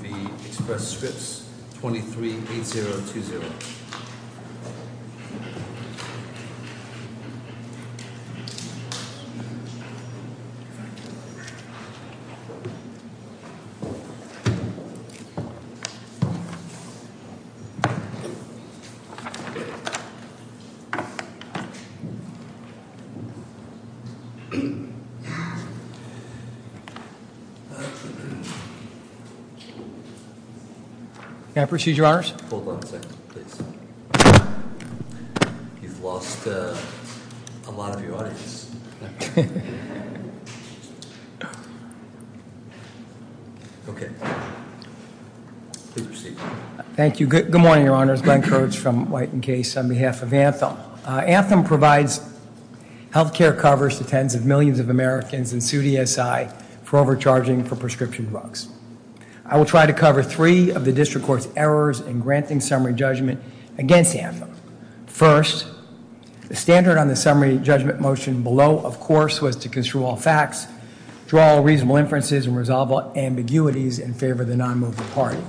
v. Express Scripts, 238020. Can I proceed, Your Honors? Hold on a second, please. You've lost a lot of your audience. Okay. Please proceed. Thank you. Good morning, Your Honors. Glenn Kurtz from White & Case on behalf of Anthem. Anthem provides health care coverage to tens of millions of Americans and sued ESI for overcharging for prescription drugs. I will try to cover three of the District Court's errors in granting summary judgment against Anthem. First, the standard on the summary judgment motion below, of course, was to construe all facts, draw all reasonable inferences, and resolve all ambiguities in favor of the non-moving party.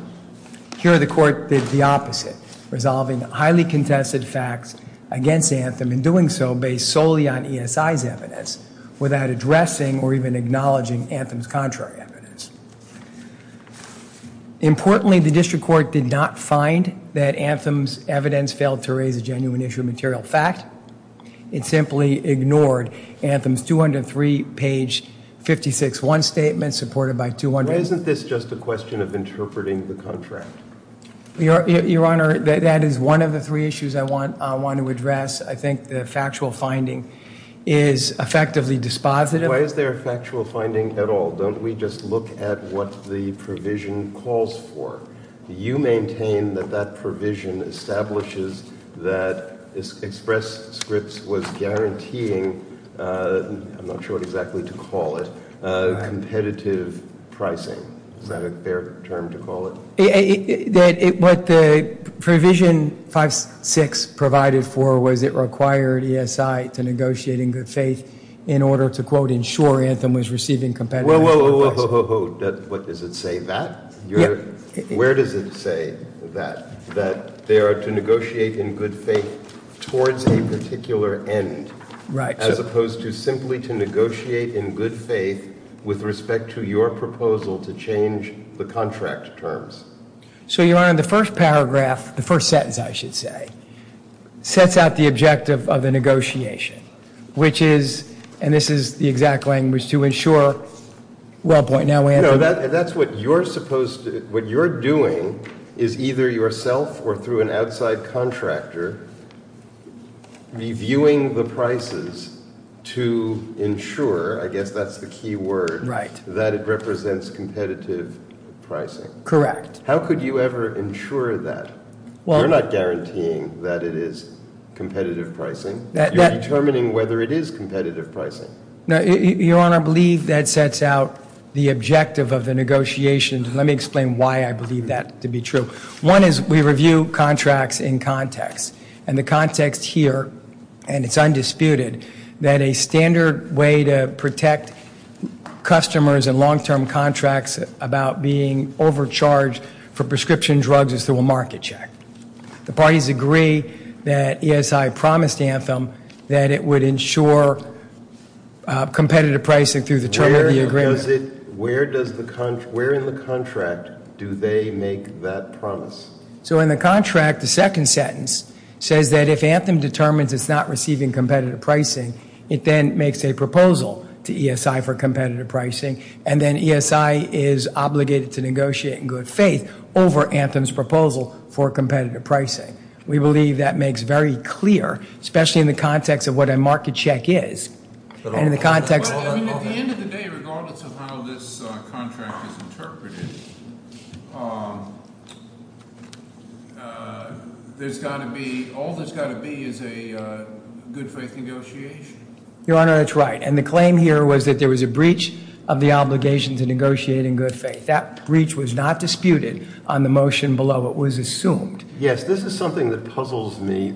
Here, the Court did the opposite, resolving highly contested facts against Anthem and doing so based solely on ESI's evidence, without addressing or even acknowledging Anthem's contrary evidence. Importantly, the District Court did not find that Anthem's evidence failed to raise a genuine issue of material fact. It simply ignored Anthem's 203 page 56-1 statement, supported by 200- Why isn't this just a question of interpreting the contract? Your Honor, that is one of the three issues I want to address. I think the factual finding is effectively dispositive. Why is there a factual finding at all? Don't we just look at what the provision calls for? You maintain that that provision establishes that Express Scripts was guaranteeing, I'm not sure what exactly to call it, competitive pricing. Is that a fair term to call it? What the provision 56 provided for was it required ESI to negotiate in good faith in order to, quote, ensure Anthem was receiving competitive pricing. Whoa, whoa, whoa, whoa, whoa, whoa, what does it say, that? Where does it say that they are to negotiate in good faith towards a particular end? Right. As opposed to simply to negotiate in good faith with respect to your proposal to change the contract terms? So, Your Honor, the first paragraph, the first sentence, I should say, sets out the objective of the negotiation, which is, and this is the exact language, to ensure, well, point now- No, that's what you're supposed to, what you're doing is either yourself or through an outside contractor reviewing the prices to ensure, I guess that's the key word, that it represents competitive pricing. Correct. How could you ever ensure that? You're not guaranteeing that it is competitive pricing. You're determining whether it is competitive pricing. Your Honor, I believe that sets out the objective of the negotiation. Let me explain why I believe that to be true. One is we review contracts in context. And the context here, and it's undisputed, that a standard way to protect customers in long-term contracts about being overcharged for prescription drugs is through a market check. The parties agree that ESI promised Anthem that it would ensure competitive pricing through the term of the agreement. Where in the contract do they make that promise? So in the contract, the second sentence says that if Anthem determines it's not receiving competitive pricing, it then makes a proposal to ESI for competitive pricing, and then ESI is obligated to negotiate in good faith over Anthem's proposal for competitive pricing. We believe that makes very clear, especially in the context of what a market check is. At the end of the day, regardless of how this contract is interpreted, there's got to be, all there's got to be is a good faith negotiation. Your Honor, that's right. And the claim here was that there was a breach of the obligation to negotiate in good faith. That breach was not disputed on the motion below. It was assumed. Yes, this is something that puzzles me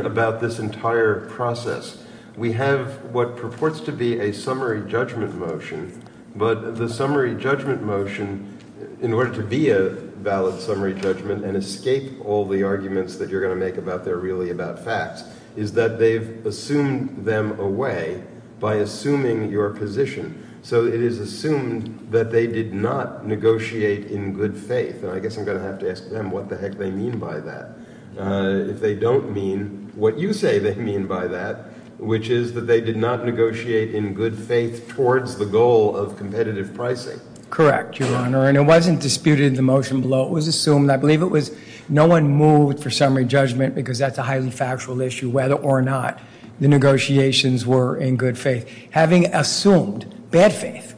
about this entire process. We have what purports to be a summary judgment motion, but the summary judgment motion, in order to be a valid summary judgment and escape all the arguments that you're going to make about they're really about facts, is that they've assumed them away by assuming your position. So it is assumed that they did not negotiate in good faith. And I guess I'm going to have to ask them what the heck they mean by that. If they don't mean what you say they mean by that, which is that they did not negotiate in good faith towards the goal of competitive pricing. Correct, Your Honor. And it wasn't disputed in the motion below. It was assumed. I believe it was no one moved for summary judgment because that's a highly factual issue, whether or not the negotiations were in good faith. Having assumed bad faith,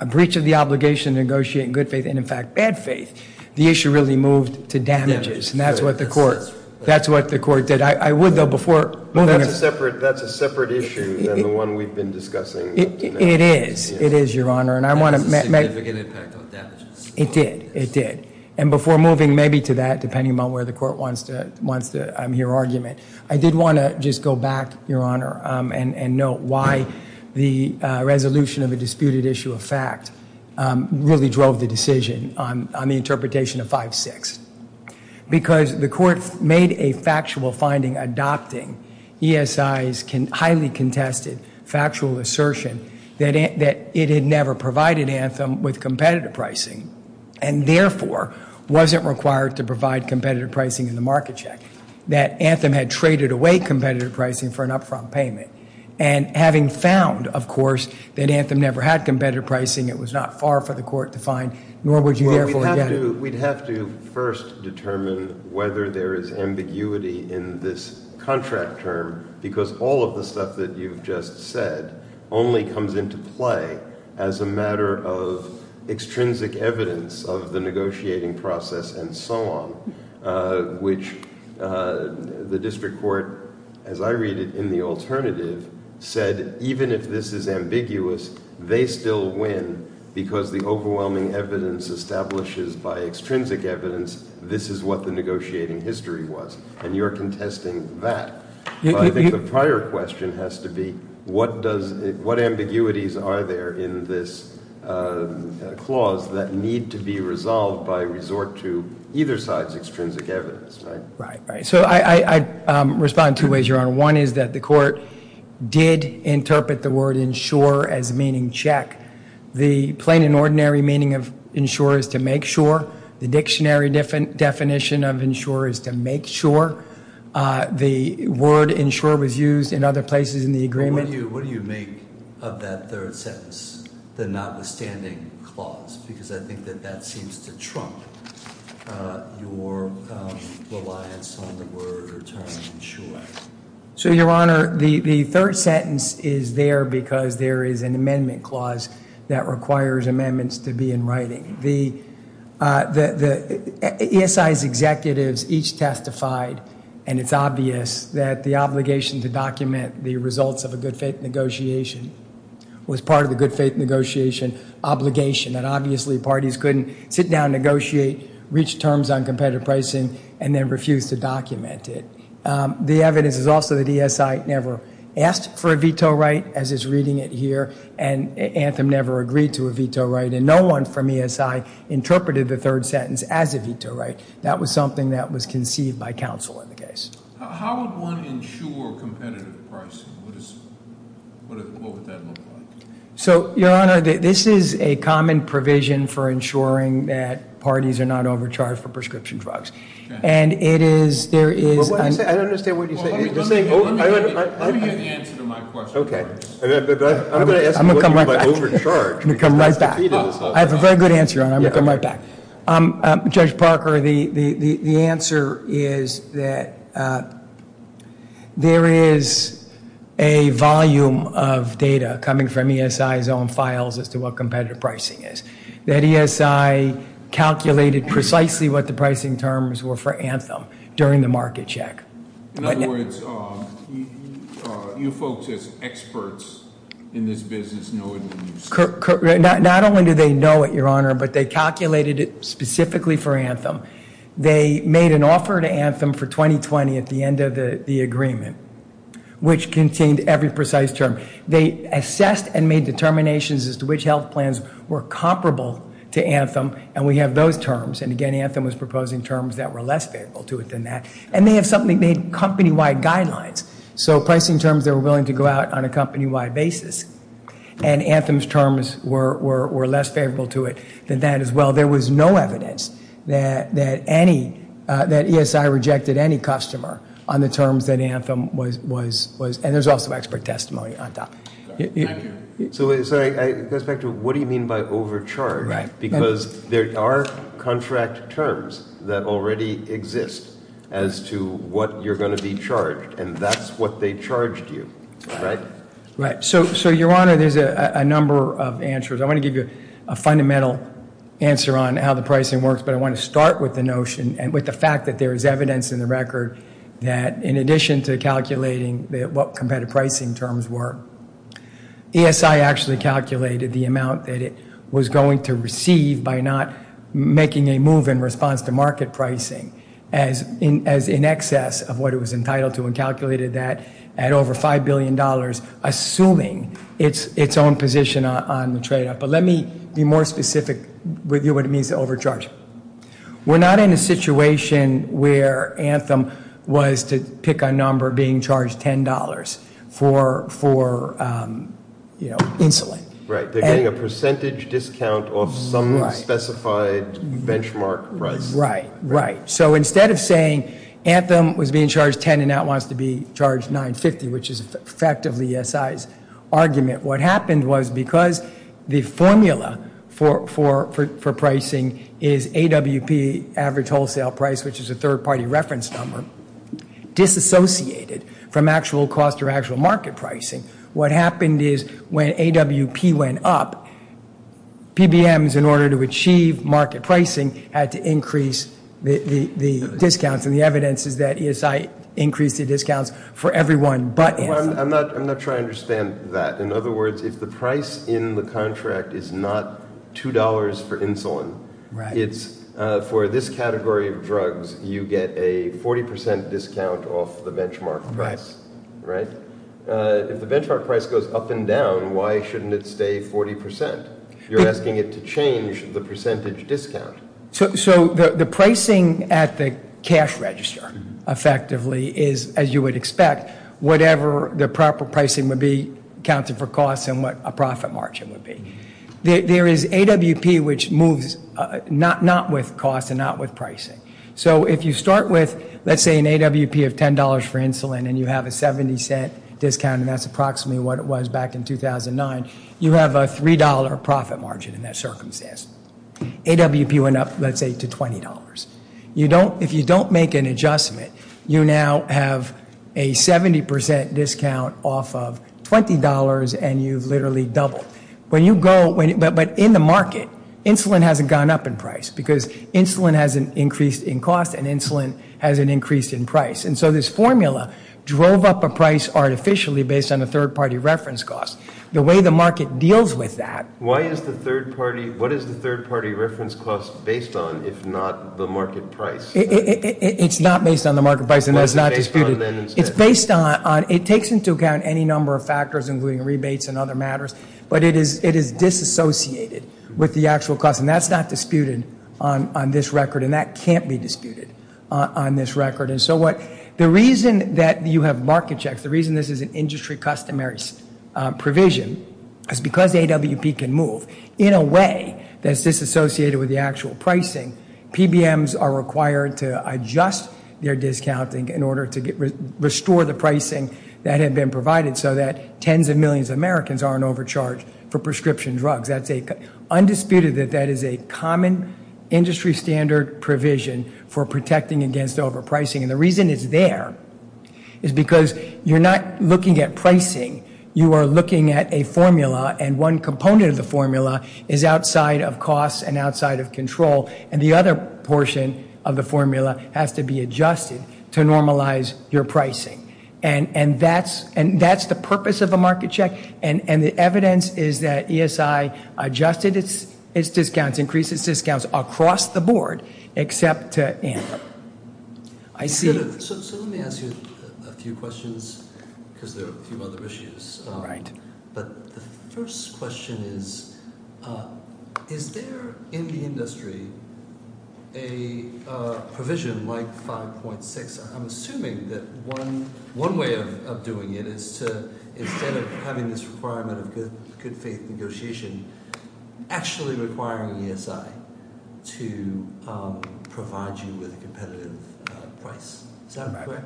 a breach of the obligation to negotiate in good faith and, in fact, bad faith, the issue really moved to damages. And that's what the court did. I would, though, before moving. That's a separate issue than the one we've been discussing. It is. It is, Your Honor. And that has a significant impact on damages. It did. It did. And before moving maybe to that, depending on where the court wants to hear argument, I did want to just go back, Your Honor, and note why the resolution of a disputed issue of fact really drove the decision on the interpretation of 5-6. Because the court made a factual finding adopting ESI's highly contested factual assertion that it had never provided Anthem with competitive pricing and, therefore, wasn't required to provide competitive pricing in the market check. That Anthem had traded away competitive pricing for an upfront payment. And having found, of course, that Anthem never had competitive pricing, it was not far for the court to find, nor would you therefore get it. We'd have to first determine whether there is ambiguity in this contract term because all of the stuff that you've just said only comes into play as a matter of extrinsic evidence of the negotiating process and so on, which the district court, as I read it in the alternative, said even if this is ambiguous, they still win because the overwhelming evidence establishes by extrinsic evidence this is what the negotiating history was. And you're contesting that. I think the prior question has to be what ambiguities are there in this clause that need to be resolved by resort to either side's extrinsic evidence, right? Right, right. So I'd respond two ways, Your Honor. One is that the court did interpret the word insure as meaning check. The plain and ordinary meaning of insure is to make sure. The dictionary definition of insure is to make sure. The word insure was used in other places in the agreement. What do you make of that third sentence, the notwithstanding clause? Because I think that that seems to trump your reliance on the word term insure. So, Your Honor, the third sentence is there because there is an amendment clause that requires amendments to be in writing. The ESI's executives each testified, and it's obvious, that the obligation to document the results of a good faith negotiation was part of the good faith negotiation obligation, that obviously parties couldn't sit down, negotiate, reach terms on competitive pricing, and then refuse to document it. The evidence is also that ESI never asked for a veto right, as is reading it here, and Anthem never agreed to a veto right, and no one from ESI interpreted the third sentence as a veto right. That was something that was conceived by counsel in the case. How would one insure competitive pricing? What would that look like? So, Your Honor, this is a common provision for insuring that parties are not overcharged for prescription drugs. I don't understand what you're saying. Let me get an answer to my question. I'm going to come right back. I have a very good answer, Your Honor. I'm going to come right back. Judge Parker, the answer is that there is a volume of data coming from ESI's own files as to what competitive pricing is. That ESI calculated precisely what the pricing terms were for Anthem during the market check. In other words, you folks as experts in this business know it when you say it. Not only do they know it, Your Honor, but they calculated it specifically for Anthem. They made an offer to Anthem for 2020 at the end of the agreement, which contained every precise term. They assessed and made determinations as to which health plans were comparable to Anthem. We have those terms. Again, Anthem was proposing terms that were less favorable to it than that. They had company-wide guidelines, so pricing terms that were willing to go out on a company-wide basis. Anthem's terms were less favorable to it than that as well. While there was no evidence that ESI rejected any customer on the terms that Anthem was, and there's also expert testimony on top. Thank you. Sorry, it goes back to what do you mean by overcharged? Right. Because there are contract terms that already exist as to what you're going to be charged, and that's what they charged you, right? Right. So, Your Honor, there's a number of answers. I want to give you a fundamental answer on how the pricing works, but I want to start with the notion and with the fact that there is evidence in the record that in addition to calculating what competitive pricing terms were, ESI actually calculated the amount that it was going to receive by not making a move in response to market pricing as in excess of what it was entitled to and calculated that at over $5 billion, assuming its own position on the trade-off. But let me be more specific with you what it means to overcharge. We're not in a situation where Anthem was to pick a number being charged $10 for insulin. Right. They're getting a percentage discount off some specified benchmark price. Right. Right. So instead of saying Anthem was being charged $10 and now it wants to be charged $9.50, which is effectively ESI's argument, what happened was because the formula for pricing is AWP, Average Wholesale Price, which is a third-party reference number, disassociated from actual cost or actual market pricing. What happened is when AWP went up, PBMs, in order to achieve market pricing, had to increase the discounts. And the evidence is that ESI increased the discounts for everyone but Anthem. I'm not sure I understand that. In other words, if the price in the contract is not $2 for insulin, it's for this category of drugs, you get a 40% discount off the benchmark price. Right. If the benchmark price goes up and down, why shouldn't it stay 40%? You're asking it to change the percentage discount. So the pricing at the cash register effectively is, as you would expect, whatever the proper pricing would be accounted for costs and what a profit margin would be. There is AWP which moves not with cost and not with pricing. So if you start with, let's say, an AWP of $10 for insulin and you have a $0.70 discount, and that's approximately what it was back in 2009, you have a $3 profit margin in that circumstance. AWP went up, let's say, to $20. If you don't make an adjustment, you now have a 70% discount off of $20 and you've literally doubled. But in the market, insulin hasn't gone up in price because insulin has an increase in cost and insulin has an increase in price. And so this formula drove up a price artificially based on a third-party reference cost. The way the market deals with that. What is the third-party reference cost based on if not the market price? It's not based on the market price and that's not disputed. It's based on, it takes into account any number of factors including rebates and other matters, but it is disassociated with the actual cost. And that's not disputed on this record and that can't be disputed on this record. And so the reason that you have market checks, the reason this is an industry customary provision, is because the AWP can move in a way that's disassociated with the actual pricing. PBMs are required to adjust their discounting in order to restore the pricing that had been provided so that tens of millions of Americans aren't overcharged for prescription drugs. That's undisputed that that is a common industry standard provision for protecting against overpricing. And the reason it's there is because you're not looking at pricing. You are looking at a formula and one component of the formula is outside of cost and outside of control. And the other portion of the formula has to be adjusted to normalize your pricing. And that's the purpose of a market check. And the evidence is that ESI adjusted its discounts, increased its discounts across the board, except to AMPA. So let me ask you a few questions because there are a few other issues. But the first question is, is there in the industry a provision like 5.6? I'm assuming that one way of doing it is to, instead of having this requirement of good faith negotiation, actually requiring ESI to provide you with a competitive price. Is that correct?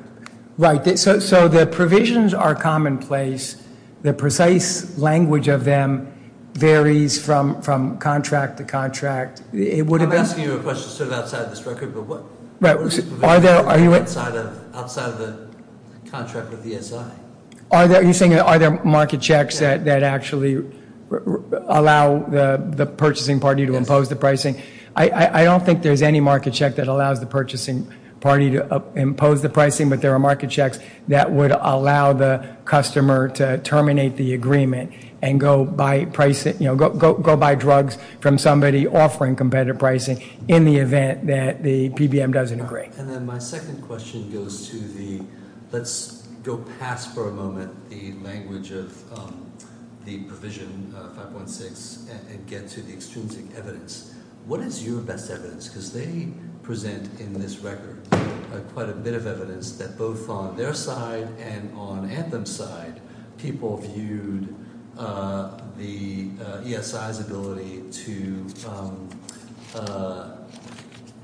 Right. So the provisions are commonplace. The precise language of them varies from contract to contract. I'm asking you a question sort of outside of this record, but what is the provision outside of the contract with ESI? Are there market checks that actually allow the purchasing party to impose the pricing? I don't think there's any market check that allows the purchasing party to impose the pricing, but there are market checks that would allow the customer to terminate the agreement and go buy drugs from somebody offering competitive pricing in the event that the PBM doesn't agree. And then my second question goes to the, let's go past for a moment the language of the provision 5.6 and get to the extrinsic evidence. What is your best evidence? Because they present in this record quite a bit of evidence that both on their side and on Anthem's side, people viewed the ESI's ability to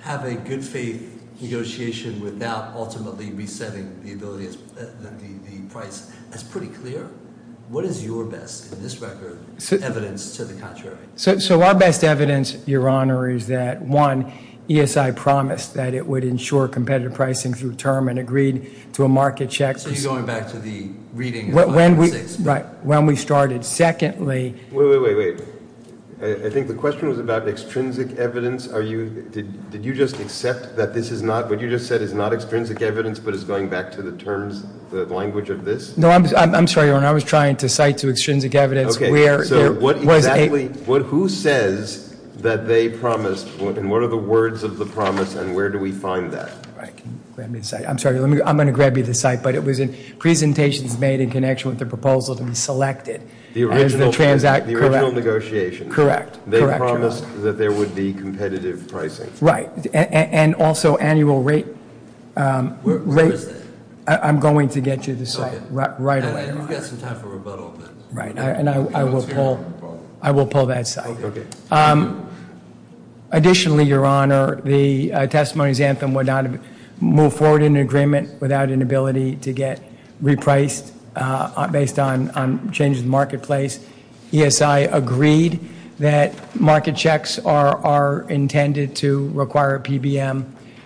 have a good faith negotiation without ultimately resetting the price. That's pretty clear. What is your best, in this record, evidence to the contrary? So our best evidence, Your Honor, is that, one, ESI promised that it would ensure competitive pricing through term and agreed to a market check. So you're going back to the reading of 5.6? Right, when we started. Secondly- Wait, wait, wait, wait. I think the question was about extrinsic evidence. Did you just accept that this is not, what you just said is not extrinsic evidence but is going back to the terms, the language of this? No, I'm sorry, Your Honor. I was trying to cite to extrinsic evidence where there was a- Okay, so what exactly, who says that they promised, and what are the words of the promise, and where do we find that? All right, can you grab me the site? I'm sorry, I'm going to grab you the site, but it was in presentations made in connection with the proposal to be selected as the transact- The original negotiations. Correct, correct, Your Honor. They promised that there would be competitive pricing. Right, and also annual rate- Where is that? I'm going to get you the site right away, Your Honor. You've got some time for rebuttal, but- Right, and I will pull that site. Okay. Additionally, Your Honor, the testimony of Xanthan would not have moved forward in an agreement without an ability to get repriced based on changes in the marketplace. ESI agreed that market checks are intended to require PBM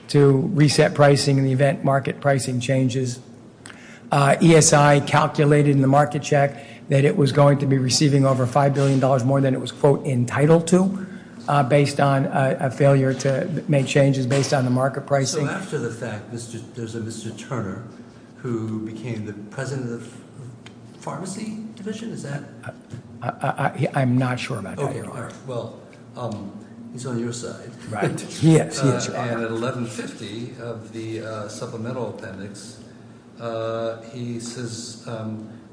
to reset pricing in the event market pricing changes. ESI calculated in the market check that it was going to be receiving over $5 billion more than it was, quote, entitled to based on a failure to make changes based on the market pricing. So after the fact, there's a Mr. Turner who became the president of the pharmacy division? Is that- I'm not sure about that, Your Honor. Okay, well, he's on your side. Right, he is, he is. And at 1150 of the supplemental appendix, he says,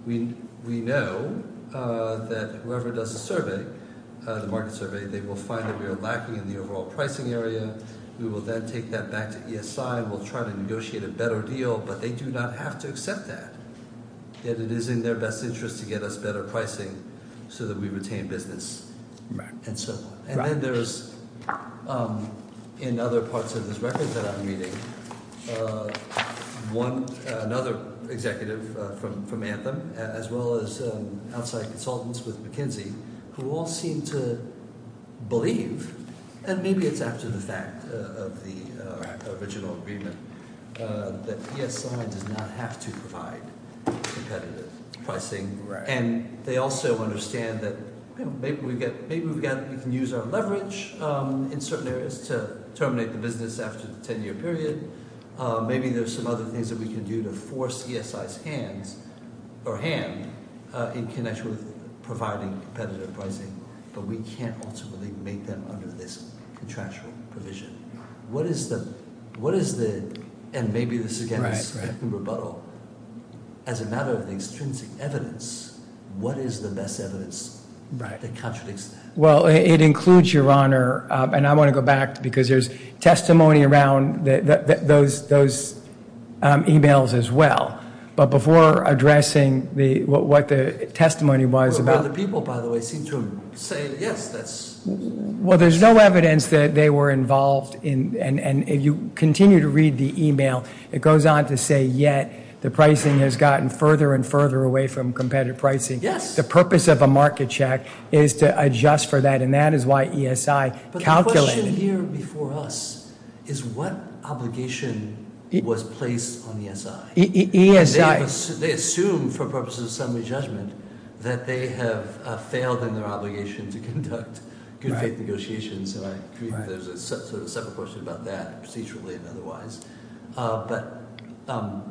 we know that whoever does the survey, the market survey, they will find that we are lacking in the overall pricing area. We will then take that back to ESI and we'll try to negotiate a better deal, but they do not have to accept that. Yet it is in their best interest to get us better pricing so that we retain business. Right. And so forth. And then there's, in other parts of this record that I'm reading, another executive from Anthem, as well as outside consultants with McKinsey, who all seem to believe, and maybe it's after the fact of the original agreement, that ESI does not have to provide competitive pricing. Right. And they also understand that maybe we can use our leverage in certain areas to terminate the business after the 10-year period. Maybe there's some other things that we can do to force ESI's hand in connection with providing competitive pricing, but we can't ultimately make them under this contractual provision. What is the, and maybe this again is a rebuttal, as a matter of the extrinsic evidence, what is the best evidence that contradicts that? Well, it includes, Your Honor, and I want to go back because there's testimony around those emails as well. But before addressing what the testimony was about. Other people, by the way, seem to say, yes, that's. Well, there's no evidence that they were involved, and you continue to read the email. It goes on to say, yet the pricing has gotten further and further away from competitive pricing. Yes. The purpose of a market check is to adjust for that, and that is why ESI calculated. But the question here before us is what obligation was placed on ESI? ESI. They assume, for purposes of summary judgment, that they have failed in their obligation to conduct good faith negotiations. And I believe there's a separate question about that, procedurally and otherwise. But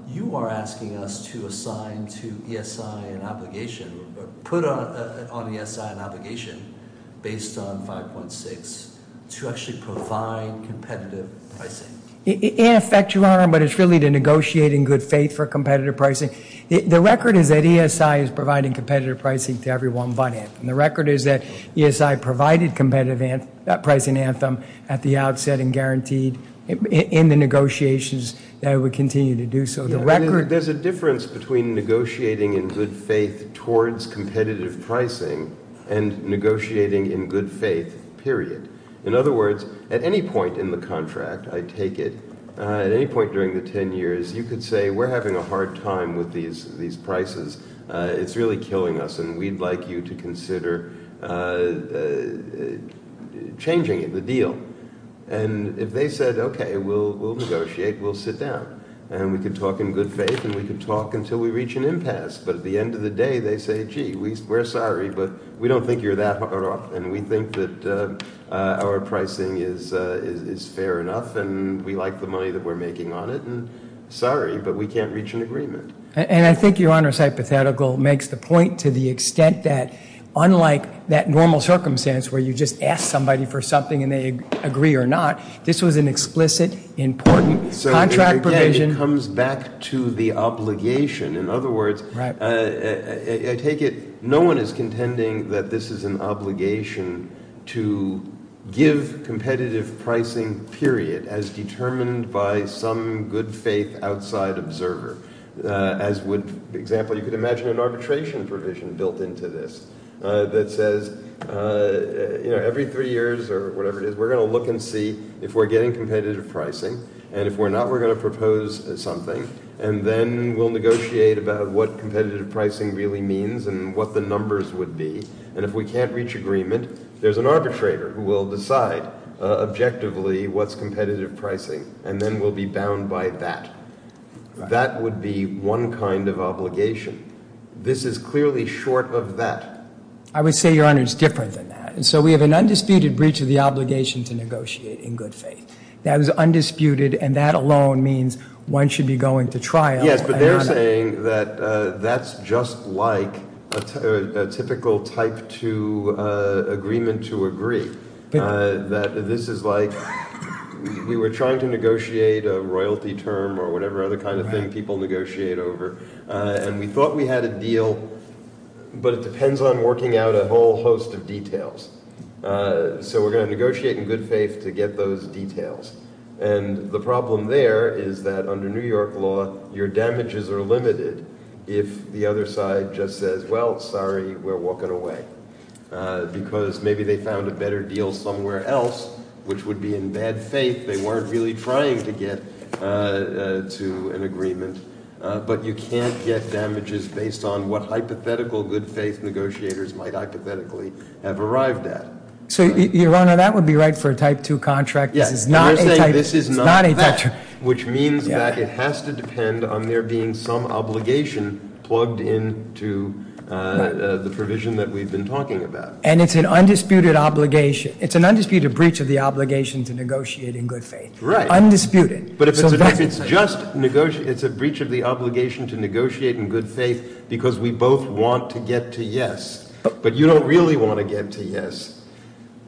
you are asking us to assign to ESI an obligation, put on ESI an obligation based on 5.6 to actually provide competitive pricing. In effect, Your Honor, but it's really to negotiate in good faith for competitive pricing. The record is that ESI is providing competitive pricing to everyone but Anthem. The record is that ESI provided competitive pricing to Anthem at the outset and guaranteed in the negotiations that it would continue to do so. There's a difference between negotiating in good faith towards competitive pricing and negotiating in good faith, period. In other words, at any point in the contract, I take it, at any point during the 10 years, you could say we're having a hard time with these prices. It's really killing us, and we'd like you to consider changing the deal. And if they said, okay, we'll negotiate, we'll sit down. And we can talk in good faith, and we can talk until we reach an impasse. But at the end of the day, they say, gee, we're sorry, but we don't think you're that hot off. And we think that our pricing is fair enough, and we like the money that we're making on it. And sorry, but we can't reach an agreement. And I think Your Honor's hypothetical makes the point to the extent that, unlike that normal circumstance where you just ask somebody for something and they agree or not, this was an explicit, important contract provision. So, again, it comes back to the obligation. In other words, I take it no one is contending that this is an obligation to give competitive pricing, period, as determined by some good faith outside observer. As would, for example, you could imagine an arbitration provision built into this that says, you know, every three years or whatever it is, we're going to look and see if we're getting competitive pricing. And if we're not, we're going to propose something. And then we'll negotiate about what competitive pricing really means and what the numbers would be. And if we can't reach agreement, there's an arbitrator who will decide objectively what's competitive pricing. And then we'll be bound by that. That would be one kind of obligation. This is clearly short of that. I would say, Your Honor, it's different than that. And so we have an undisputed breach of the obligation to negotiate in good faith. That is undisputed, and that alone means one should be going to trial. Yes, but they're saying that that's just like a typical type two agreement to agree, that this is like we were trying to negotiate a royalty term or whatever other kind of thing people negotiate over. And we thought we had a deal, but it depends on working out a whole host of details. So we're going to negotiate in good faith to get those details. And the problem there is that under New York law, your damages are limited if the other side just says, well, sorry, we're walking away. Because maybe they found a better deal somewhere else, which would be in bad faith. They weren't really trying to get to an agreement. But you can't get damages based on what hypothetical good faith negotiators might hypothetically have arrived at. So, Your Honor, that would be right for a type two contract. This is not a type two. Which means that it has to depend on there being some obligation plugged into the provision that we've been talking about. And it's an undisputed obligation. It's an undisputed breach of the obligation to negotiate in good faith. Right. Undisputed. But if it's just a breach of the obligation to negotiate in good faith because we both want to get to yes, but you don't really want to get to yes,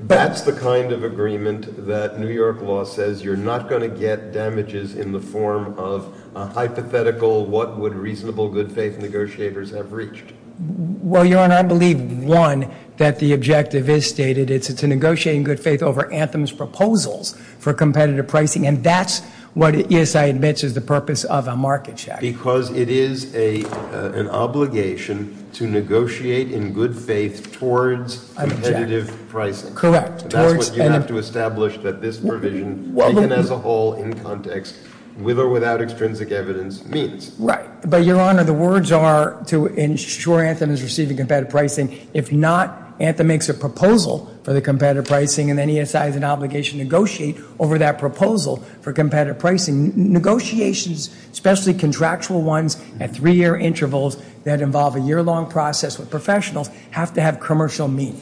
that's the kind of agreement that New York law says you're not going to get damages in the form of a hypothetical what would reasonable good faith negotiators have reached. Well, Your Honor, I believe, one, that the objective is stated. It's to negotiate in good faith over Anthem's proposals for competitive pricing. And that's what ESI admits is the purpose of a market check. Because it is an obligation to negotiate in good faith towards competitive pricing. That's what you have to establish that this provision, as a whole, in context, with or without extrinsic evidence, means. Right. But, Your Honor, the words are to ensure Anthem is receiving competitive pricing. If not, Anthem makes a proposal for the competitive pricing and then ESI has an obligation to negotiate over that proposal for competitive pricing. Negotiations, especially contractual ones at three-year intervals that involve a year-long process with professionals, have to have commercial meaning.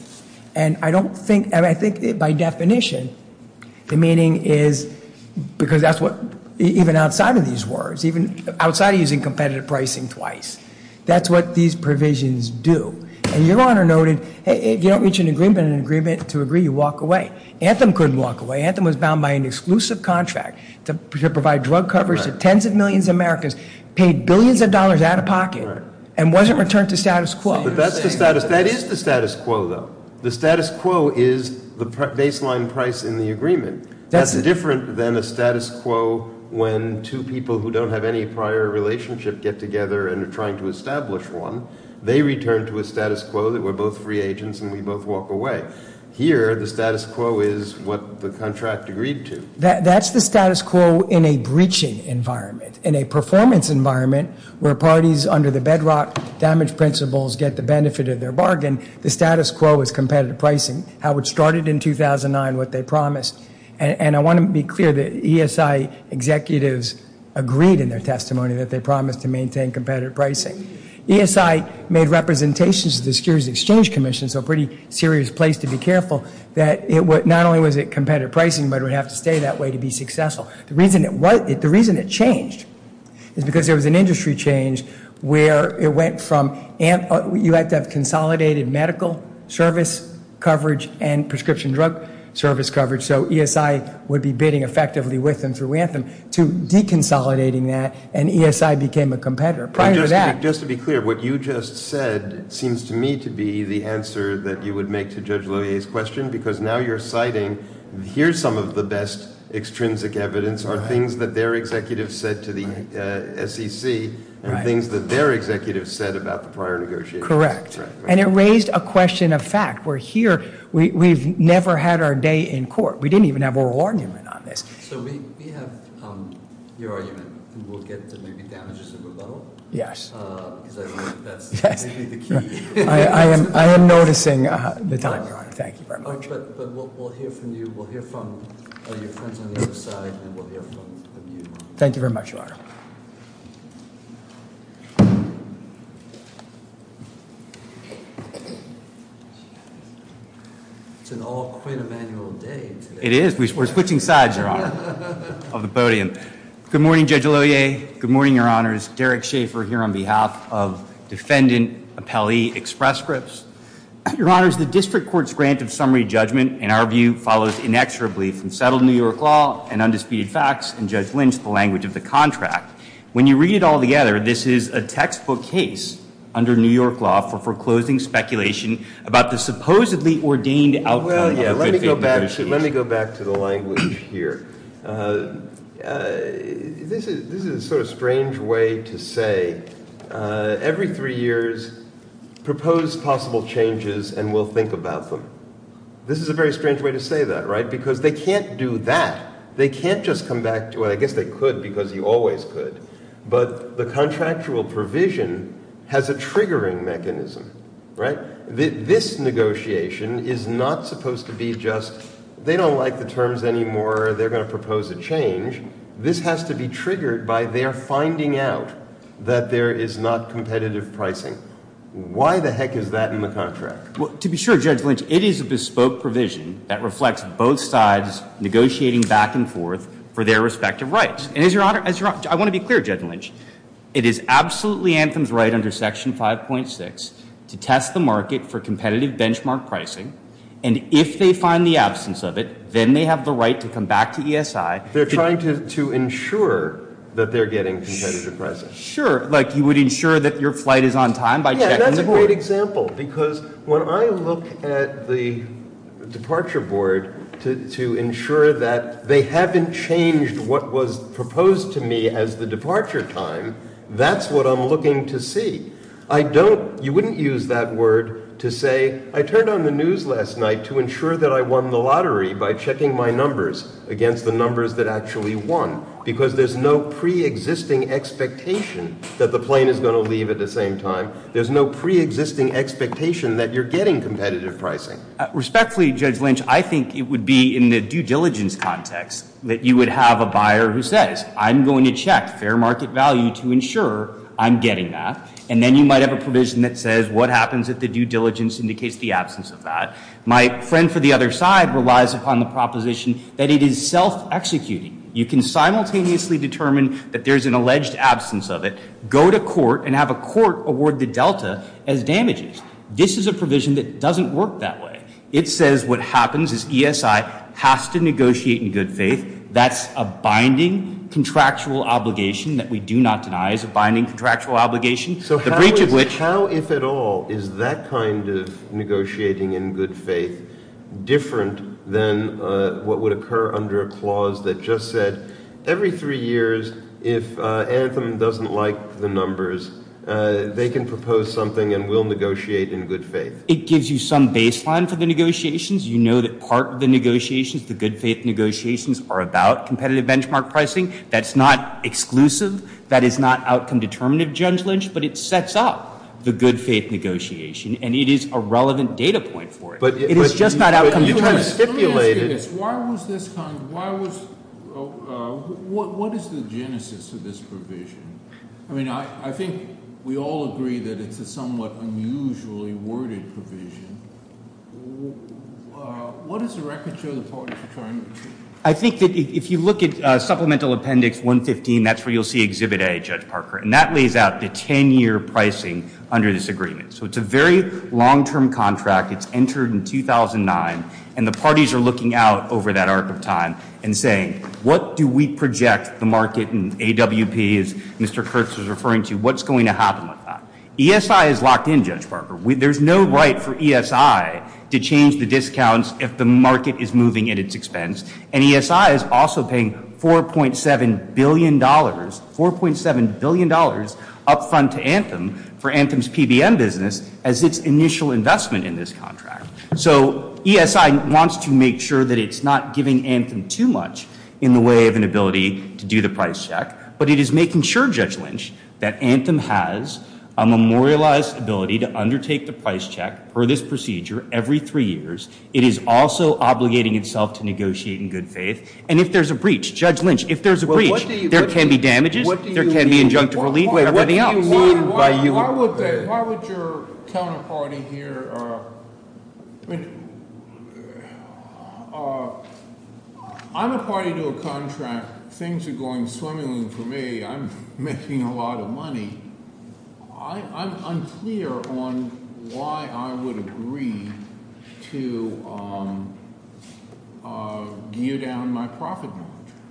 And I don't think, I think by definition, the meaning is, because that's what, even outside of these words, even outside of using competitive pricing twice. That's what these provisions do. And Your Honor noted, if you don't reach an agreement in an agreement to agree, you walk away. Anthem couldn't walk away. Anthem was bound by an exclusive contract to provide drug coverage to tens of millions of Americans, paid billions of dollars out of pocket, and wasn't returned to status quo. But that's the status. That is the status quo, though. The status quo is the baseline price in the agreement. That's different than a status quo when two people who don't have any prior relationship get together and are trying to establish one. They return to a status quo that we're both free agents and we both walk away. Here, the status quo is what the contract agreed to. That's the status quo in a breaching environment, in a performance environment where parties under the bedrock damage principles get the benefit of their bargain. The status quo is competitive pricing, how it started in 2009, what they promised. And I want to be clear that ESI executives agreed in their testimony that they promised to maintain competitive pricing. ESI made representations to the Securities Exchange Commission, so pretty serious place to be careful, that not only was it competitive pricing, but it would have to stay that way to be successful. The reason it changed is because there was an industry change where it went from you had to have consolidated medical service coverage and prescription drug service coverage, so ESI would be bidding effectively with them through Anthem, to deconsolidating that and ESI became a competitor. Just to be clear, what you just said seems to me to be the answer that you would make to Judge Lohier's question, because now you're citing here's some of the best extrinsic evidence are things that their executives said to the SEC and things that their executives said about the prior negotiations. Correct. And it raised a question of fact. We're here, we've never had our day in court. We didn't even have oral argument on this. So we have your argument, and we'll get to maybe damages of rebuttal. Yes. Because I believe that's maybe the key. I am noticing the time, Your Honor. Thank you very much. But we'll hear from you, we'll hear from your friends on the other side, and we'll hear from you. Thank you very much, Your Honor. It's an all quid of annual day today. It is. We're switching sides, Your Honor, of the podium. Good morning, Judge Lohier. Good morning, Your Honors. Derek Schaefer here on behalf of Defendant Appellee Express Scripts. Your Honors, the district court's grant of summary judgment, in our view, follows inexorably from settled New York law and undisputed facts and Judge Lynch, the language of the contract. When you read it all together, this is a textbook case under New York law for foreclosing speculation about the supposedly ordained outcome of a good faith marriage case. Let me go back to the language here. This is a sort of strange way to say, every three years, propose possible changes and we'll think about them. This is a very strange way to say that, right? Because they can't do that. They can't just come back to it. I guess they could because you always could. But the contractual provision has a triggering mechanism, right? This negotiation is not supposed to be just, they don't like the terms anymore, they're going to propose a change. This has to be triggered by their finding out that there is not competitive pricing. Why the heck is that in the contract? Well, to be sure, Judge Lynch, it is a bespoke provision that reflects both sides negotiating back and forth for their respective rights. I want to be clear, Judge Lynch. It is absolutely Anthem's right under Section 5.6 to test the market for competitive benchmark pricing, and if they find the absence of it, then they have the right to come back to ESI. They're trying to ensure that they're getting competitive pricing. Sure. Like you would ensure that your flight is on time by checking the board. Because when I look at the departure board to ensure that they haven't changed what was proposed to me as the departure time, that's what I'm looking to see. I don't, you wouldn't use that word to say, I turned on the news last night to ensure that I won the lottery by checking my numbers against the numbers that actually won. Because there's no preexisting expectation that the plane is going to leave at the same time. There's no preexisting expectation that you're getting competitive pricing. Respectfully, Judge Lynch, I think it would be in the due diligence context that you would have a buyer who says, I'm going to check fair market value to ensure I'm getting that. And then you might have a provision that says what happens if the due diligence indicates the absence of that. My friend for the other side relies upon the proposition that it is self-executing. You can simultaneously determine that there's an alleged absence of it. Go to court and have a court award the delta as damages. This is a provision that doesn't work that way. It says what happens is ESI has to negotiate in good faith. That's a binding contractual obligation that we do not deny as a binding contractual obligation. So how, if at all, is that kind of negotiating in good faith different than what would occur under a clause that just said, every three years, if Anthem doesn't like the numbers, they can propose something and we'll negotiate in good faith. It gives you some baseline for the negotiations. You know that part of the negotiations, the good faith negotiations, are about competitive benchmark pricing. That's not exclusive. That is not outcome determinative, Judge Lynch, but it sets up the good faith negotiation, and it is a relevant data point for it. It is just not outcome determinative. But you have stipulated. Let me ask you this. Why was this kind of, why was, what is the genesis of this provision? I mean, I think we all agree that it's a somewhat unusually worded provision. What does the record show the parties are trying to do? I think that if you look at Supplemental Appendix 115, that's where you'll see Exhibit A, Judge Parker, and that lays out the 10-year pricing under this agreement. So it's a very long-term contract. It's entered in 2009, and the parties are looking out over that arc of time and saying, what do we project the market and AWP, as Mr. Kurtz was referring to, what's going to happen with that? ESI is locked in, Judge Parker. There's no right for ESI to change the discounts if the market is moving at its expense, and ESI is also paying $4.7 billion, $4.7 billion up front to Anthem for Anthem's PBM business as its initial investment in this contract. So ESI wants to make sure that it's not giving Anthem too much in the way of an ability to do the price check, but it is making sure, Judge Lynch, that Anthem has a memorialized ability to undertake the price check for this procedure every three years. It is also obligating itself to negotiate in good faith, and if there's a breach, Judge Lynch, if there's a breach, there can be damages, there can be injunctive relief, whatever else. Why would your counterparty here, I mean, I'm a party to a contract. Things are going swimmingly for me. I'm making a lot of money. I'm unclear on why I would agree to gear down my profit margin.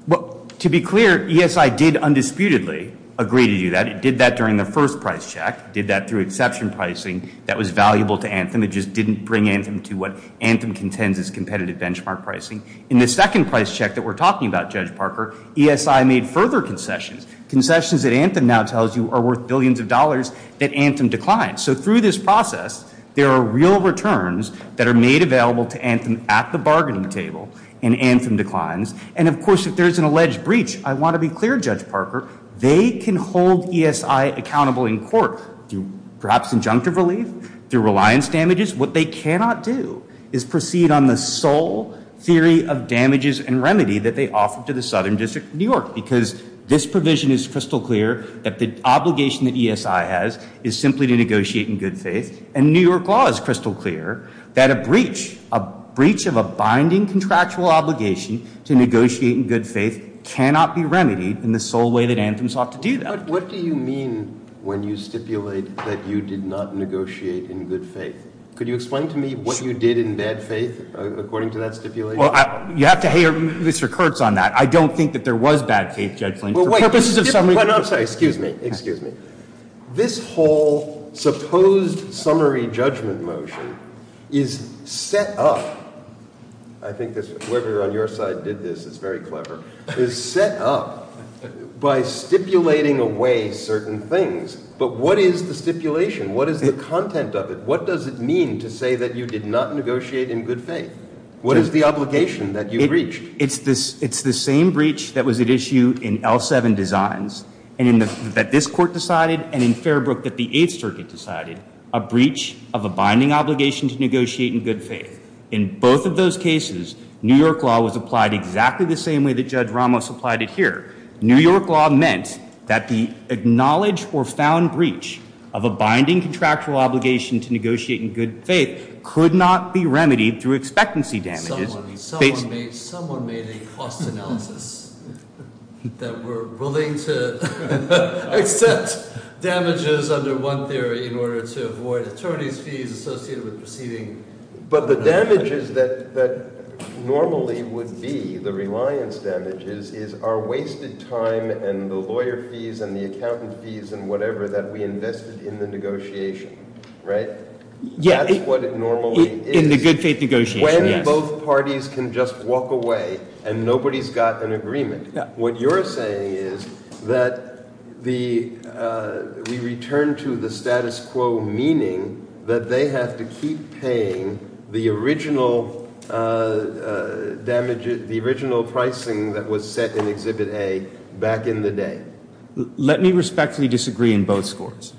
Well, to be clear, ESI did undisputedly agree to do that. It did that during the first price check. It did that through exception pricing that was valuable to Anthem. It just didn't bring Anthem to what Anthem contends as competitive benchmark pricing. In the second price check that we're talking about, Judge Parker, ESI made further concessions, concessions that Anthem now tells you are worth billions of dollars that Anthem declined. So through this process, there are real returns that are made available to Anthem at the bargaining table, and Anthem declines, and, of course, if there's an alleged breach, I want to be clear, Judge Parker, they can hold ESI accountable in court through perhaps injunctive relief, through reliance damages. What they cannot do is proceed on the sole theory of damages and remedy that they offer to the Southern District of New York because this provision is crystal clear that the obligation that ESI has is simply to negotiate in good faith, and New York law is crystal clear that a breach, a breach of a binding contractual obligation to negotiate in good faith cannot be remedied in the sole way that Anthem sought to do that. But what do you mean when you stipulate that you did not negotiate in good faith? Could you explain to me what you did in bad faith according to that stipulation? Well, you have to hear Mr. Kurtz on that. I don't think that there was bad faith, Judge Flint, for purposes of summary judgment. I'm sorry, excuse me, excuse me. This whole supposed summary judgment motion is set up, I think whoever on your side did this is very clever, is set up by stipulating away certain things, but what is the stipulation? What is the content of it? What does it mean to say that you did not negotiate in good faith? What is the obligation that you breached? It's the same breach that was at issue in L7 designs that this Court decided and in Fairbrook that the Eighth Circuit decided, a breach of a binding obligation to negotiate in good faith. In both of those cases, New York law was applied exactly the same way that Judge Ramos applied it here. New York law meant that the acknowledged or found breach of a binding contractual obligation to negotiate in good faith could not be remedied through expectancy damages. Someone made a cost analysis that we're willing to accept damages under one theory in order to avoid attorney's fees associated with proceeding. But the damages that normally would be, the reliance damages, is our wasted time and the lawyer fees and the accountant fees and whatever that we invested in the negotiation, right? That's what it normally is. In the good faith negotiation, yes. If both parties can just walk away and nobody's got an agreement, what you're saying is that we return to the status quo, meaning that they have to keep paying the original pricing that was set in Exhibit A back in the day. Let me respectfully disagree on both scores.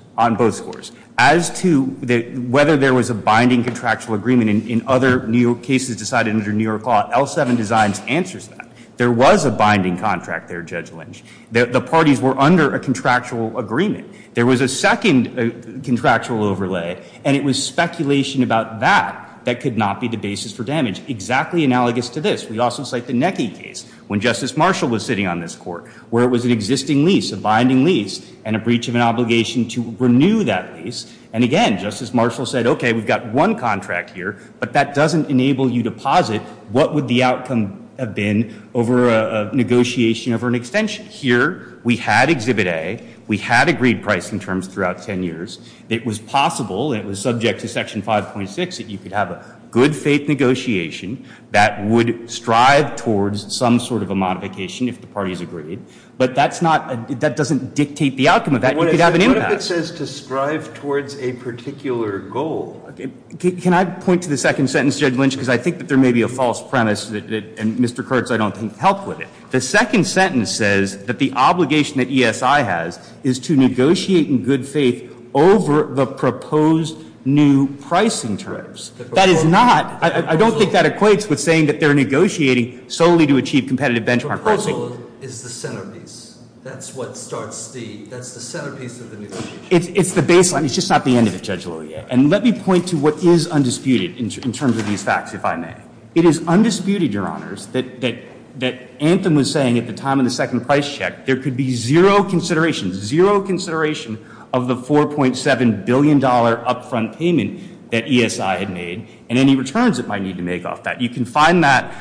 As to whether there was a binding contractual agreement in other New York cases decided under New York law, L7 designs answers that. There was a binding contract there, Judge Lynch. The parties were under a contractual agreement. There was a second contractual overlay, and it was speculation about that that could not be the basis for damage. Exactly analogous to this, we also cite the Necky case when Justice Marshall was sitting on this Court where it was an existing lease, a binding lease, and a breach of an obligation to renew that lease. And again, Justice Marshall said, okay, we've got one contract here, but that doesn't enable you to posit what would the outcome have been over a negotiation over an extension. Here, we had Exhibit A. We had agreed pricing terms throughout 10 years. It was possible, and it was subject to Section 5.6, that you could have a good-faith negotiation that would strive towards some sort of a modification if the parties agreed. But that's not – that doesn't dictate the outcome of that. You could have an impact. What if it says to strive towards a particular goal? Can I point to the second sentence, Judge Lynch, because I think that there may be a false premise, and Mr. Kurtz, I don't think, helped with it. The second sentence says that the obligation that ESI has is to negotiate in good faith over the proposed new pricing terms. That is not – I don't think that equates with saying that they're negotiating solely to achieve competitive benchmark pricing. The proposal is the centerpiece. That's what starts the – that's the centerpiece of the negotiation. It's the baseline. It's just not the end of the schedule yet. And let me point to what is undisputed in terms of these facts, if I may. It is undisputed, Your Honors, that Anthem was saying at the time of the second price check there could be zero consideration, zero consideration of the $4.7 billion upfront payment that ESI had made and any returns it might need to make off that. You can find that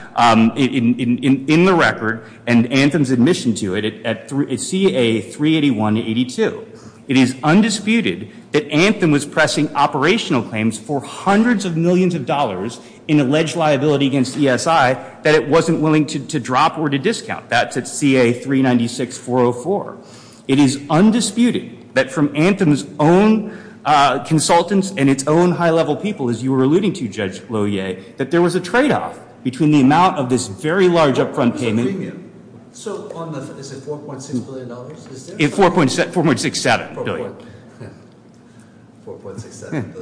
in the record and Anthem's admission to it at CA 381-82. It is undisputed that Anthem was pressing operational claims for hundreds of millions of dollars in alleged liability against ESI that it wasn't willing to drop or to discount. That's at CA 396-404. It is undisputed that from Anthem's own consultants and its own high-level people, as you were alluding to, Judge Loyer, that there was a tradeoff between the amount of this very large upfront payment – So on the – is it $4.6 billion? $4.67 billion. $4.67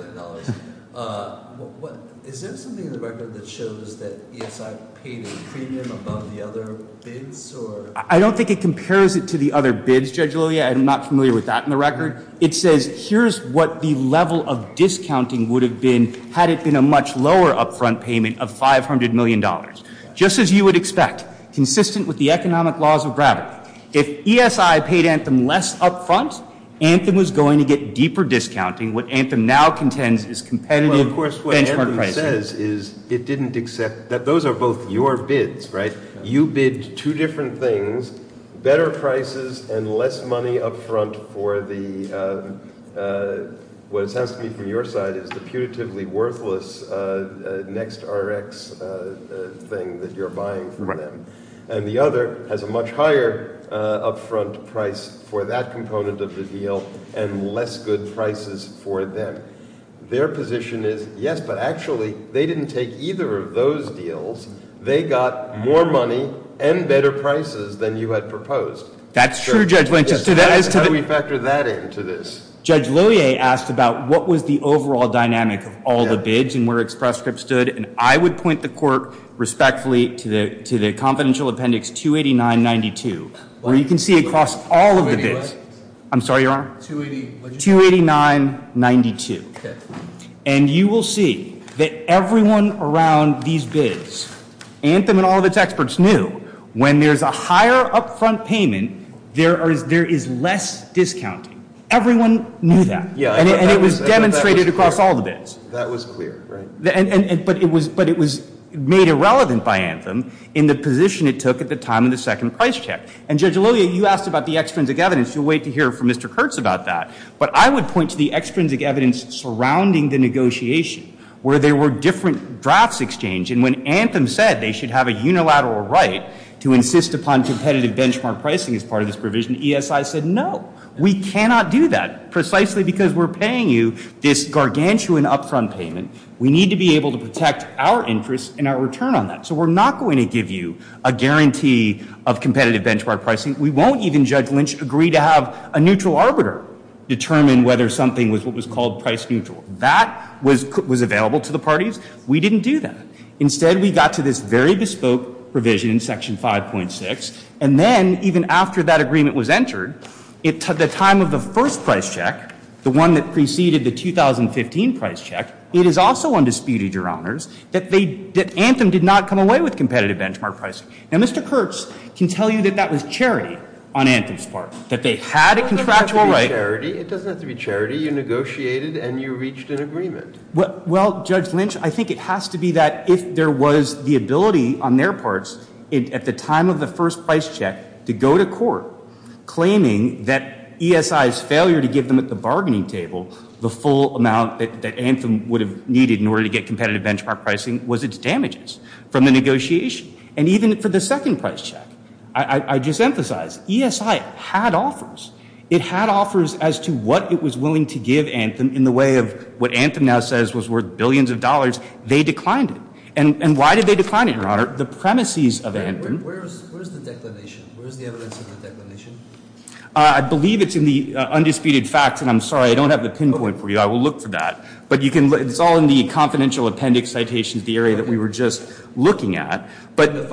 billion. Is there something in the record that shows that ESI paid a premium above the other bids or – I don't think it compares it to the other bids, Judge Loyer. I'm not familiar with that in the record. It says here's what the level of discounting would have been had it been a much lower upfront payment of $500 million. Just as you would expect, consistent with the economic laws of gravity. If ESI paid Anthem less upfront, Anthem was going to get deeper discounting. What Anthem now contends is competitive benchmark pricing. Well, of course, what Anthem says is it didn't accept – those are both your bids, right? You bid two different things, better prices and less money upfront for the – what it sounds to me from your side is the putatively worthless NextRx thing that you're buying from them. And the other has a much higher upfront price for that component of the deal and less good prices for them. Their position is yes, but actually they didn't take either of those deals. They got more money and better prices than you had proposed. That's true, Judge Lynch. How do we factor that into this? Judge Loyer asked about what was the overall dynamic of all the bids and where Express Script stood. And I would point the court respectfully to the confidential appendix 28992 where you can see across all of the bids. I'm sorry, Your Honor. 28992. And you will see that everyone around these bids, Anthem and all of its experts knew when there's a higher upfront payment, there is less discounting. Everyone knew that. And it was demonstrated across all the bids. That was clear, right? But it was made irrelevant by Anthem in the position it took at the time of the second price check. And Judge Loyer, you asked about the extrinsic evidence. You'll wait to hear from Mr. Kurtz about that. But I would point to the extrinsic evidence surrounding the negotiation where there were different drafts exchanged. And when Anthem said they should have a unilateral right to insist upon competitive benchmark pricing as part of this provision, ESI said no. We cannot do that precisely because we're paying you this gargantuan upfront payment. We need to be able to protect our interest and our return on that. So we're not going to give you a guarantee of competitive benchmark pricing. We won't even, Judge Lynch, agree to have a neutral arbiter determine whether something was what was called price neutral. That was available to the parties. We didn't do that. Instead, we got to this very bespoke provision in Section 5.6. And then, even after that agreement was entered, at the time of the first price check, the one that preceded the 2015 price check, it is also undisputed, Your Honors, that Anthem did not come away with competitive benchmark pricing. Now, Mr. Kurtz can tell you that that was charity on Anthem's part, that they had a contractual right. It doesn't have to be charity. You negotiated and you reached an agreement. Well, Judge Lynch, I think it has to be that if there was the ability on their parts at the time of the first price check to go to court claiming that ESI's failure to give them at the bargaining table the full amount that Anthem would have needed in order to get competitive benchmark pricing was its damages from the negotiation. And even for the second price check, I just emphasize, ESI had offers. It had offers as to what it was willing to give Anthem in the way of what Anthem now says was worth billions of dollars. They declined it. And why did they decline it, Your Honor? The premises of Anthem. Where is the declination? Where is the evidence of the declination? I believe it's in the undisputed facts. And I'm sorry, I don't have the pinpoint for you. I will look for that. It's all in the confidential appendix citations, the area that we were just looking at. But there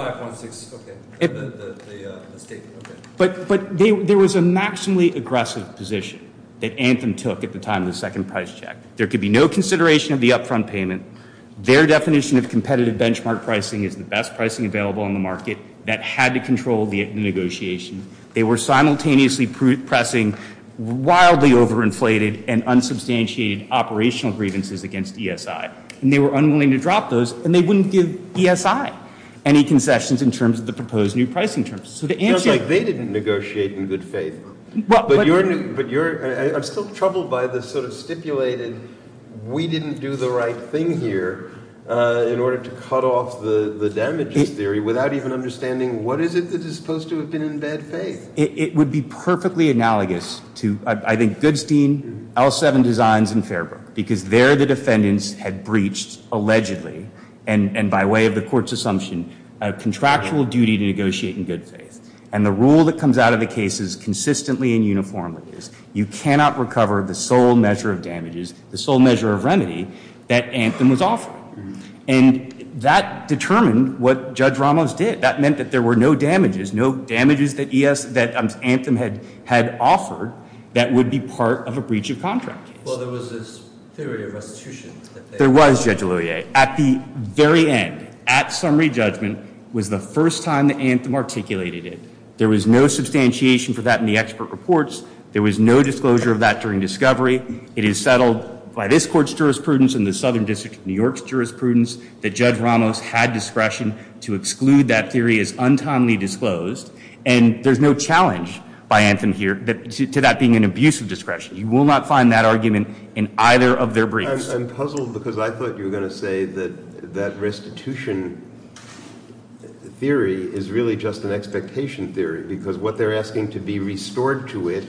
was a maximally aggressive position that Anthem took at the time of the second price check. There could be no consideration of the upfront payment. Their definition of competitive benchmark pricing is the best pricing available on the market that had to control the negotiation. They were simultaneously pressing wildly overinflated and unsubstantiated operational grievances against ESI. And they were unwilling to drop those, and they wouldn't give ESI any concessions in terms of the proposed new pricing terms. So the answer — It sounds like they didn't negotiate in good faith. But you're — I'm still troubled by this sort of stipulated, we didn't do the right thing here in order to cut off the damages theory without even understanding what is it that is supposed to have been in bad faith? It would be perfectly analogous to, I think, Goodstein, L7 Designs, and Fairbrook. Because there the defendants had breached, allegedly, and by way of the Court's assumption, a contractual duty to negotiate in good faith. And the rule that comes out of the case is consistently and uniformly, you cannot recover the sole measure of damages, the sole measure of remedy, that Anthem was offering. And that determined what Judge Ramos did. That meant that there were no damages, no damages that Anthem had offered that would be part of a breach of contract. Well, there was this theory of restitution. There was, Judge Oluye. At the very end, at summary judgment, was the first time that Anthem articulated it. There was no substantiation for that in the expert reports. There was no disclosure of that during discovery. It is settled by this Court's jurisprudence and the Southern District of New York's jurisprudence that Judge Ramos had discretion to exclude that theory as untimely disclosed. And there's no challenge by Anthem here to that being an abuse of discretion. You will not find that argument in either of their briefs. I'm puzzled because I thought you were going to say that restitution theory is really just an expectation theory. Because what they're asking to be restored to it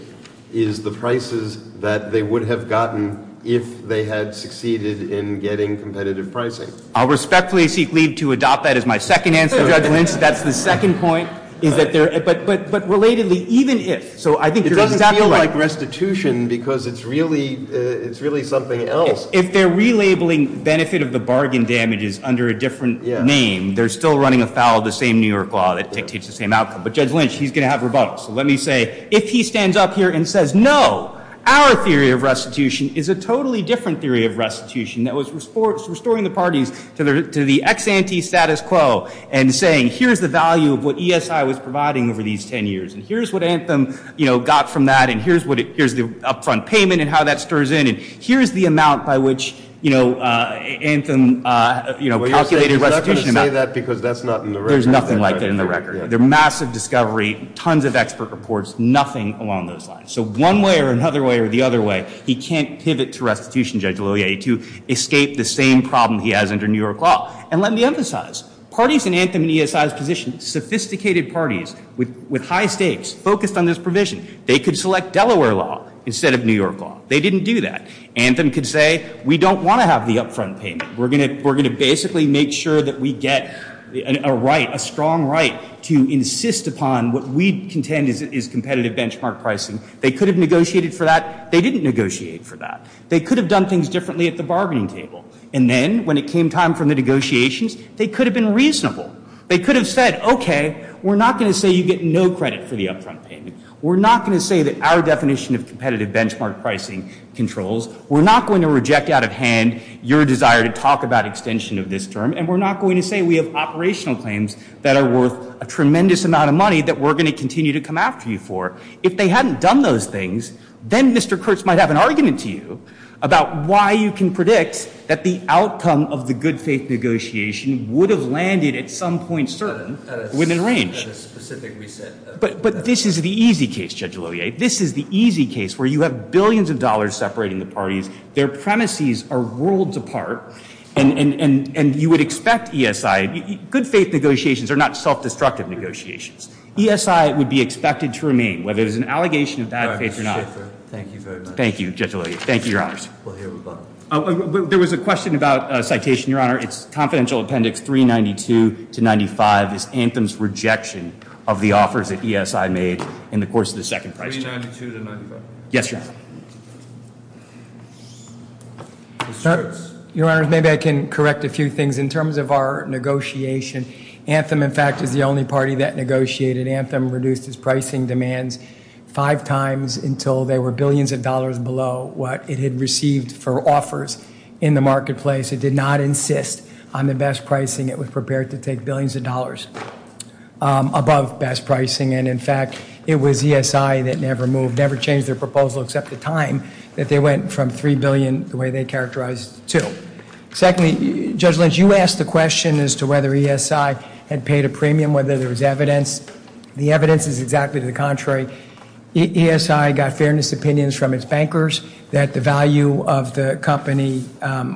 is the prices that they would have gotten if they had succeeded in getting competitive pricing. I'll respectfully seek leave to adopt that as my second answer, Judge Lynch. That's the second point. But relatedly, even if, so I think you're exactly right. It doesn't feel like restitution because it's really something else. If they're relabeling benefit of the bargain damages under a different name, they're still running afoul of the same New York law that dictates the same outcome. But Judge Lynch, he's going to have rebuttal. So let me say, if he stands up here and says, no, our theory of restitution is a totally different theory of restitution that was restoring the parties to the ex-ante status quo and saying, here's the value of what ESI was providing over these 10 years. And here's what Anthem got from that. And here's the upfront payment and how that stirs in. And here's the amount by which Anthem calculated restitution amount. Well, you're not going to say that because that's not in the record. There's nothing like that in the record. They're massive discovery, tons of expert reports, nothing along those lines. So one way or another way or the other way, he can't pivot to restitution, Judge Loyer, to escape the same problem he has under New York law. And let me emphasize, parties in Anthem and ESI's position, sophisticated parties with high stakes, focused on this provision, they could select Delaware law instead of New York law. They didn't do that. Anthem could say, we don't want to have the upfront payment. We're going to basically make sure that we get a right, a strong right, to insist upon what we contend is competitive benchmark pricing. They could have negotiated for that. They didn't negotiate for that. They could have done things differently at the bargaining table. And then when it came time for the negotiations, they could have been reasonable. They could have said, okay, we're not going to say you get no credit for the upfront payment. We're not going to say that our definition of competitive benchmark pricing controls. We're not going to reject out of hand your desire to talk about extension of this term. And we're not going to say we have operational claims that are worth a tremendous amount of money that we're going to continue to come after you for. If they hadn't done those things, then Mr. Kurtz might have an argument to you about why you can predict that the outcome of the good faith negotiation would have landed at some point certain within range. But this is the easy case, Judge Loyer. This is the easy case where you have billions of dollars separating the parties. Their premises are worlds apart. And you would expect ESI, good faith negotiations are not self-destructive negotiations. ESI would be expected to remain, whether it was an allegation of bad faith or not. Thank you very much. Thank you, Judge Loyer. Thank you, Your Honors. There was a question about citation, Your Honor. It's confidential appendix 392 to 95. It's Anthem's rejection of the offers that ESI made in the course of the second price change. 392 to 95. Yes, Your Honor. Your Honors, maybe I can correct a few things in terms of our negotiation. Anthem, in fact, is the only party that negotiated. Anthem reduced its pricing demands five times until they were billions of dollars below what it had received for offers in the marketplace. It did not insist on the best pricing. It was prepared to take billions of dollars above best pricing. And, in fact, it was ESI that never moved, never changed their proposal except the time that they went from $3 billion the way they characterized it to. Secondly, Judge Lynch, you asked the question as to whether ESI had paid a premium, whether there was evidence. The evidence is exactly the contrary. ESI got fairness opinions from its bankers that the value of the company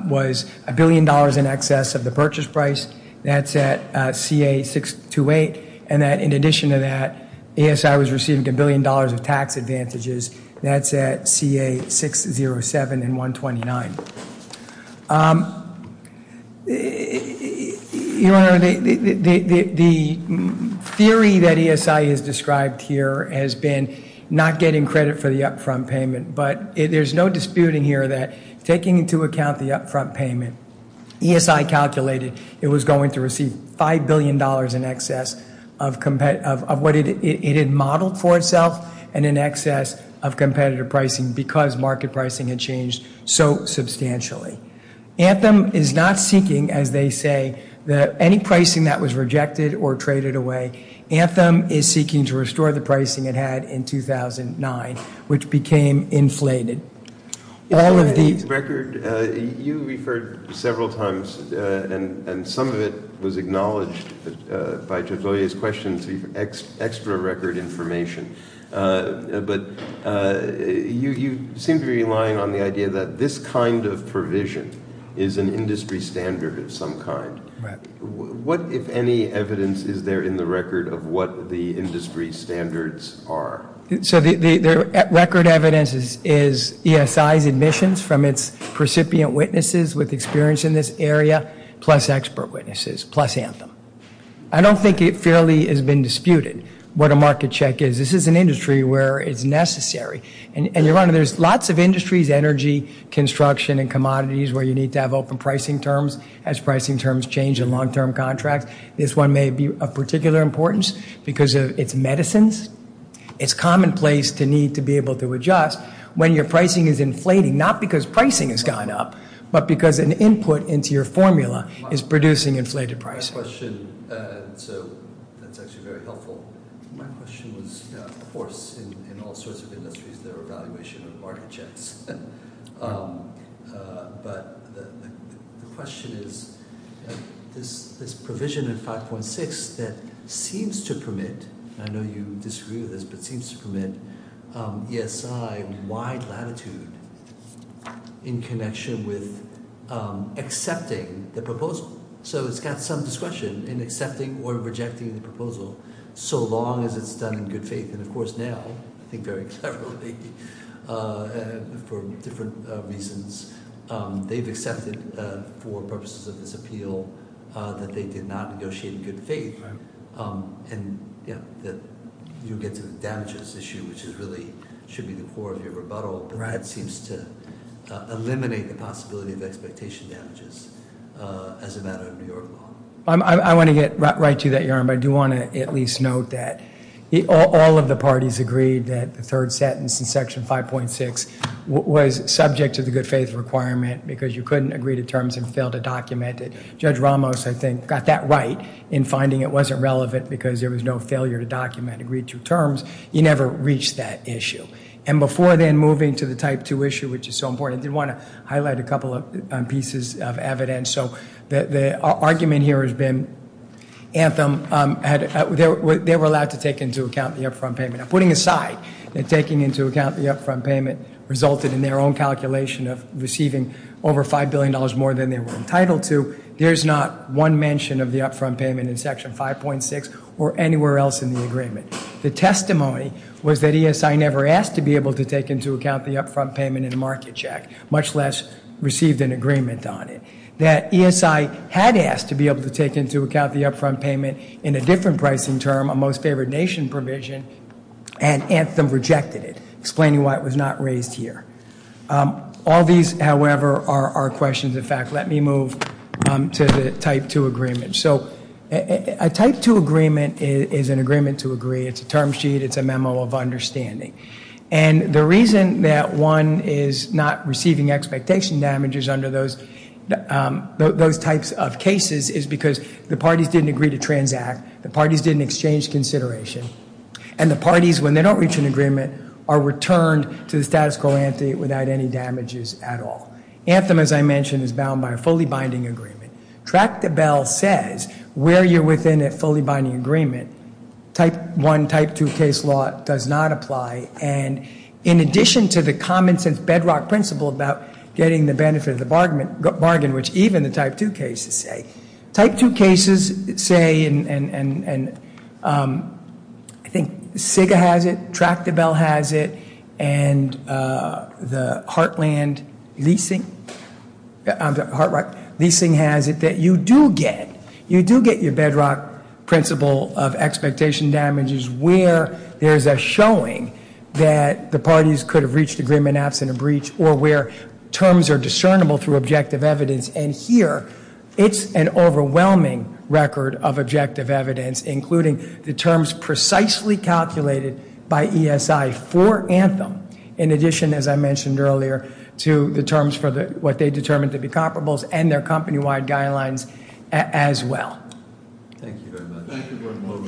was a billion dollars in excess of the purchase price. That's at CA628. And that, in addition to that, ESI was receiving a billion dollars of tax advantages. That's at CA607 and 129. Your Honor, the theory that ESI has described here has been not getting credit for the upfront payment. But there's no disputing here that taking into account the upfront payment, ESI calculated it was going to receive $5 billion in excess of what it had modeled for itself and in excess of competitive pricing because market pricing had changed so substantially. Anthem is not seeking, as they say, any pricing that was rejected or traded away. Anthem is seeking to restore the pricing it had in 2009, which became inflated. Record, you referred several times, and some of it was acknowledged by Judge Loya's question, to extra record information. But you seem to be relying on the idea that this kind of provision is an industry standard of some kind. What, if any, evidence is there in the record of what the industry standards are? So the record evidence is ESI's admissions from its recipient witnesses with experience in this area plus expert witnesses, plus Anthem. I don't think it fairly has been disputed what a market check is. This is an industry where it's necessary. And, Your Honor, there's lots of industries, energy, construction, and commodities, where you need to have open pricing terms as pricing terms change in long-term contracts. This one may be of particular importance because it's medicines. It's commonplace to need to be able to adjust when your pricing is inflating, not because pricing has gone up, but because an input into your formula is producing inflated pricing. My question, so that's actually very helpful. My question was, of course, in all sorts of industries there are evaluation of market checks. But the question is, this provision in 5.6 that seems to permit, I know you disagree with this, but seems to permit ESI wide latitude in connection with accepting the proposal. So it's got some discretion in accepting or rejecting the proposal so long as it's done in good faith. And of course now, I think very cleverly, for different reasons, they've accepted for purposes of this appeal that they did not negotiate in good faith. And you get to the damages issue, which really should be the core of your rebuttal. Brad seems to eliminate the possibility of expectation damages as a matter of New York law. I want to get right to that, Your Honor. But I do want to at least note that all of the parties agreed that the third sentence in Section 5.6 was subject to the good faith requirement because you couldn't agree to terms and fail to document it. Judge Ramos, I think, got that right in finding it wasn't relevant because there was no failure to document agreed to terms. He never reached that issue. And before then moving to the Type 2 issue, which is so important, I did want to highlight a couple of pieces of evidence. So the argument here has been Anthem, they were allowed to take into account the upfront payment. Putting aside that taking into account the upfront payment resulted in their own calculation of receiving over $5 billion more than they were entitled to, there's not one mention of the upfront payment in Section 5.6 or anywhere else in the agreement. The testimony was that ESI never asked to be able to take into account the upfront payment in a market check, much less received an agreement on it. That ESI had asked to be able to take into account the upfront payment in a different pricing term, a most favored nation provision, and Anthem rejected it, explaining why it was not raised here. All these, however, are questions. In fact, let me move to the Type 2 agreement. So a Type 2 agreement is an agreement to agree. It's a term sheet. It's a memo of understanding. And the reason that one is not receiving expectation damages under those types of cases is because the parties didn't agree to transact, the parties didn't exchange consideration, and the parties, when they don't reach an agreement, are returned to the status quo ante without any damages at all. Anthem, as I mentioned, is bound by a fully binding agreement. Tractable says where you're within a fully binding agreement, Type 1, Type 2 case law does not apply. And in addition to the common sense bedrock principle about getting the benefit of the bargain, which even the Type 2 cases say, Type 2 cases say, and I think SIGA has it, Tractable has it, and the Heartland Leasing, Heart Rock Leasing has it, that you do get, you do get your bedrock principle of expectation damages where there's a showing that the parties could have reached agreement absent a breach or where terms are discernible through objective evidence. And here, it's an overwhelming record of objective evidence, including the terms precisely calculated by ESI for Anthem. In addition, as I mentioned earlier, to the terms for what they determined to be comparables and their company-wide guidelines as well. Thank you very much.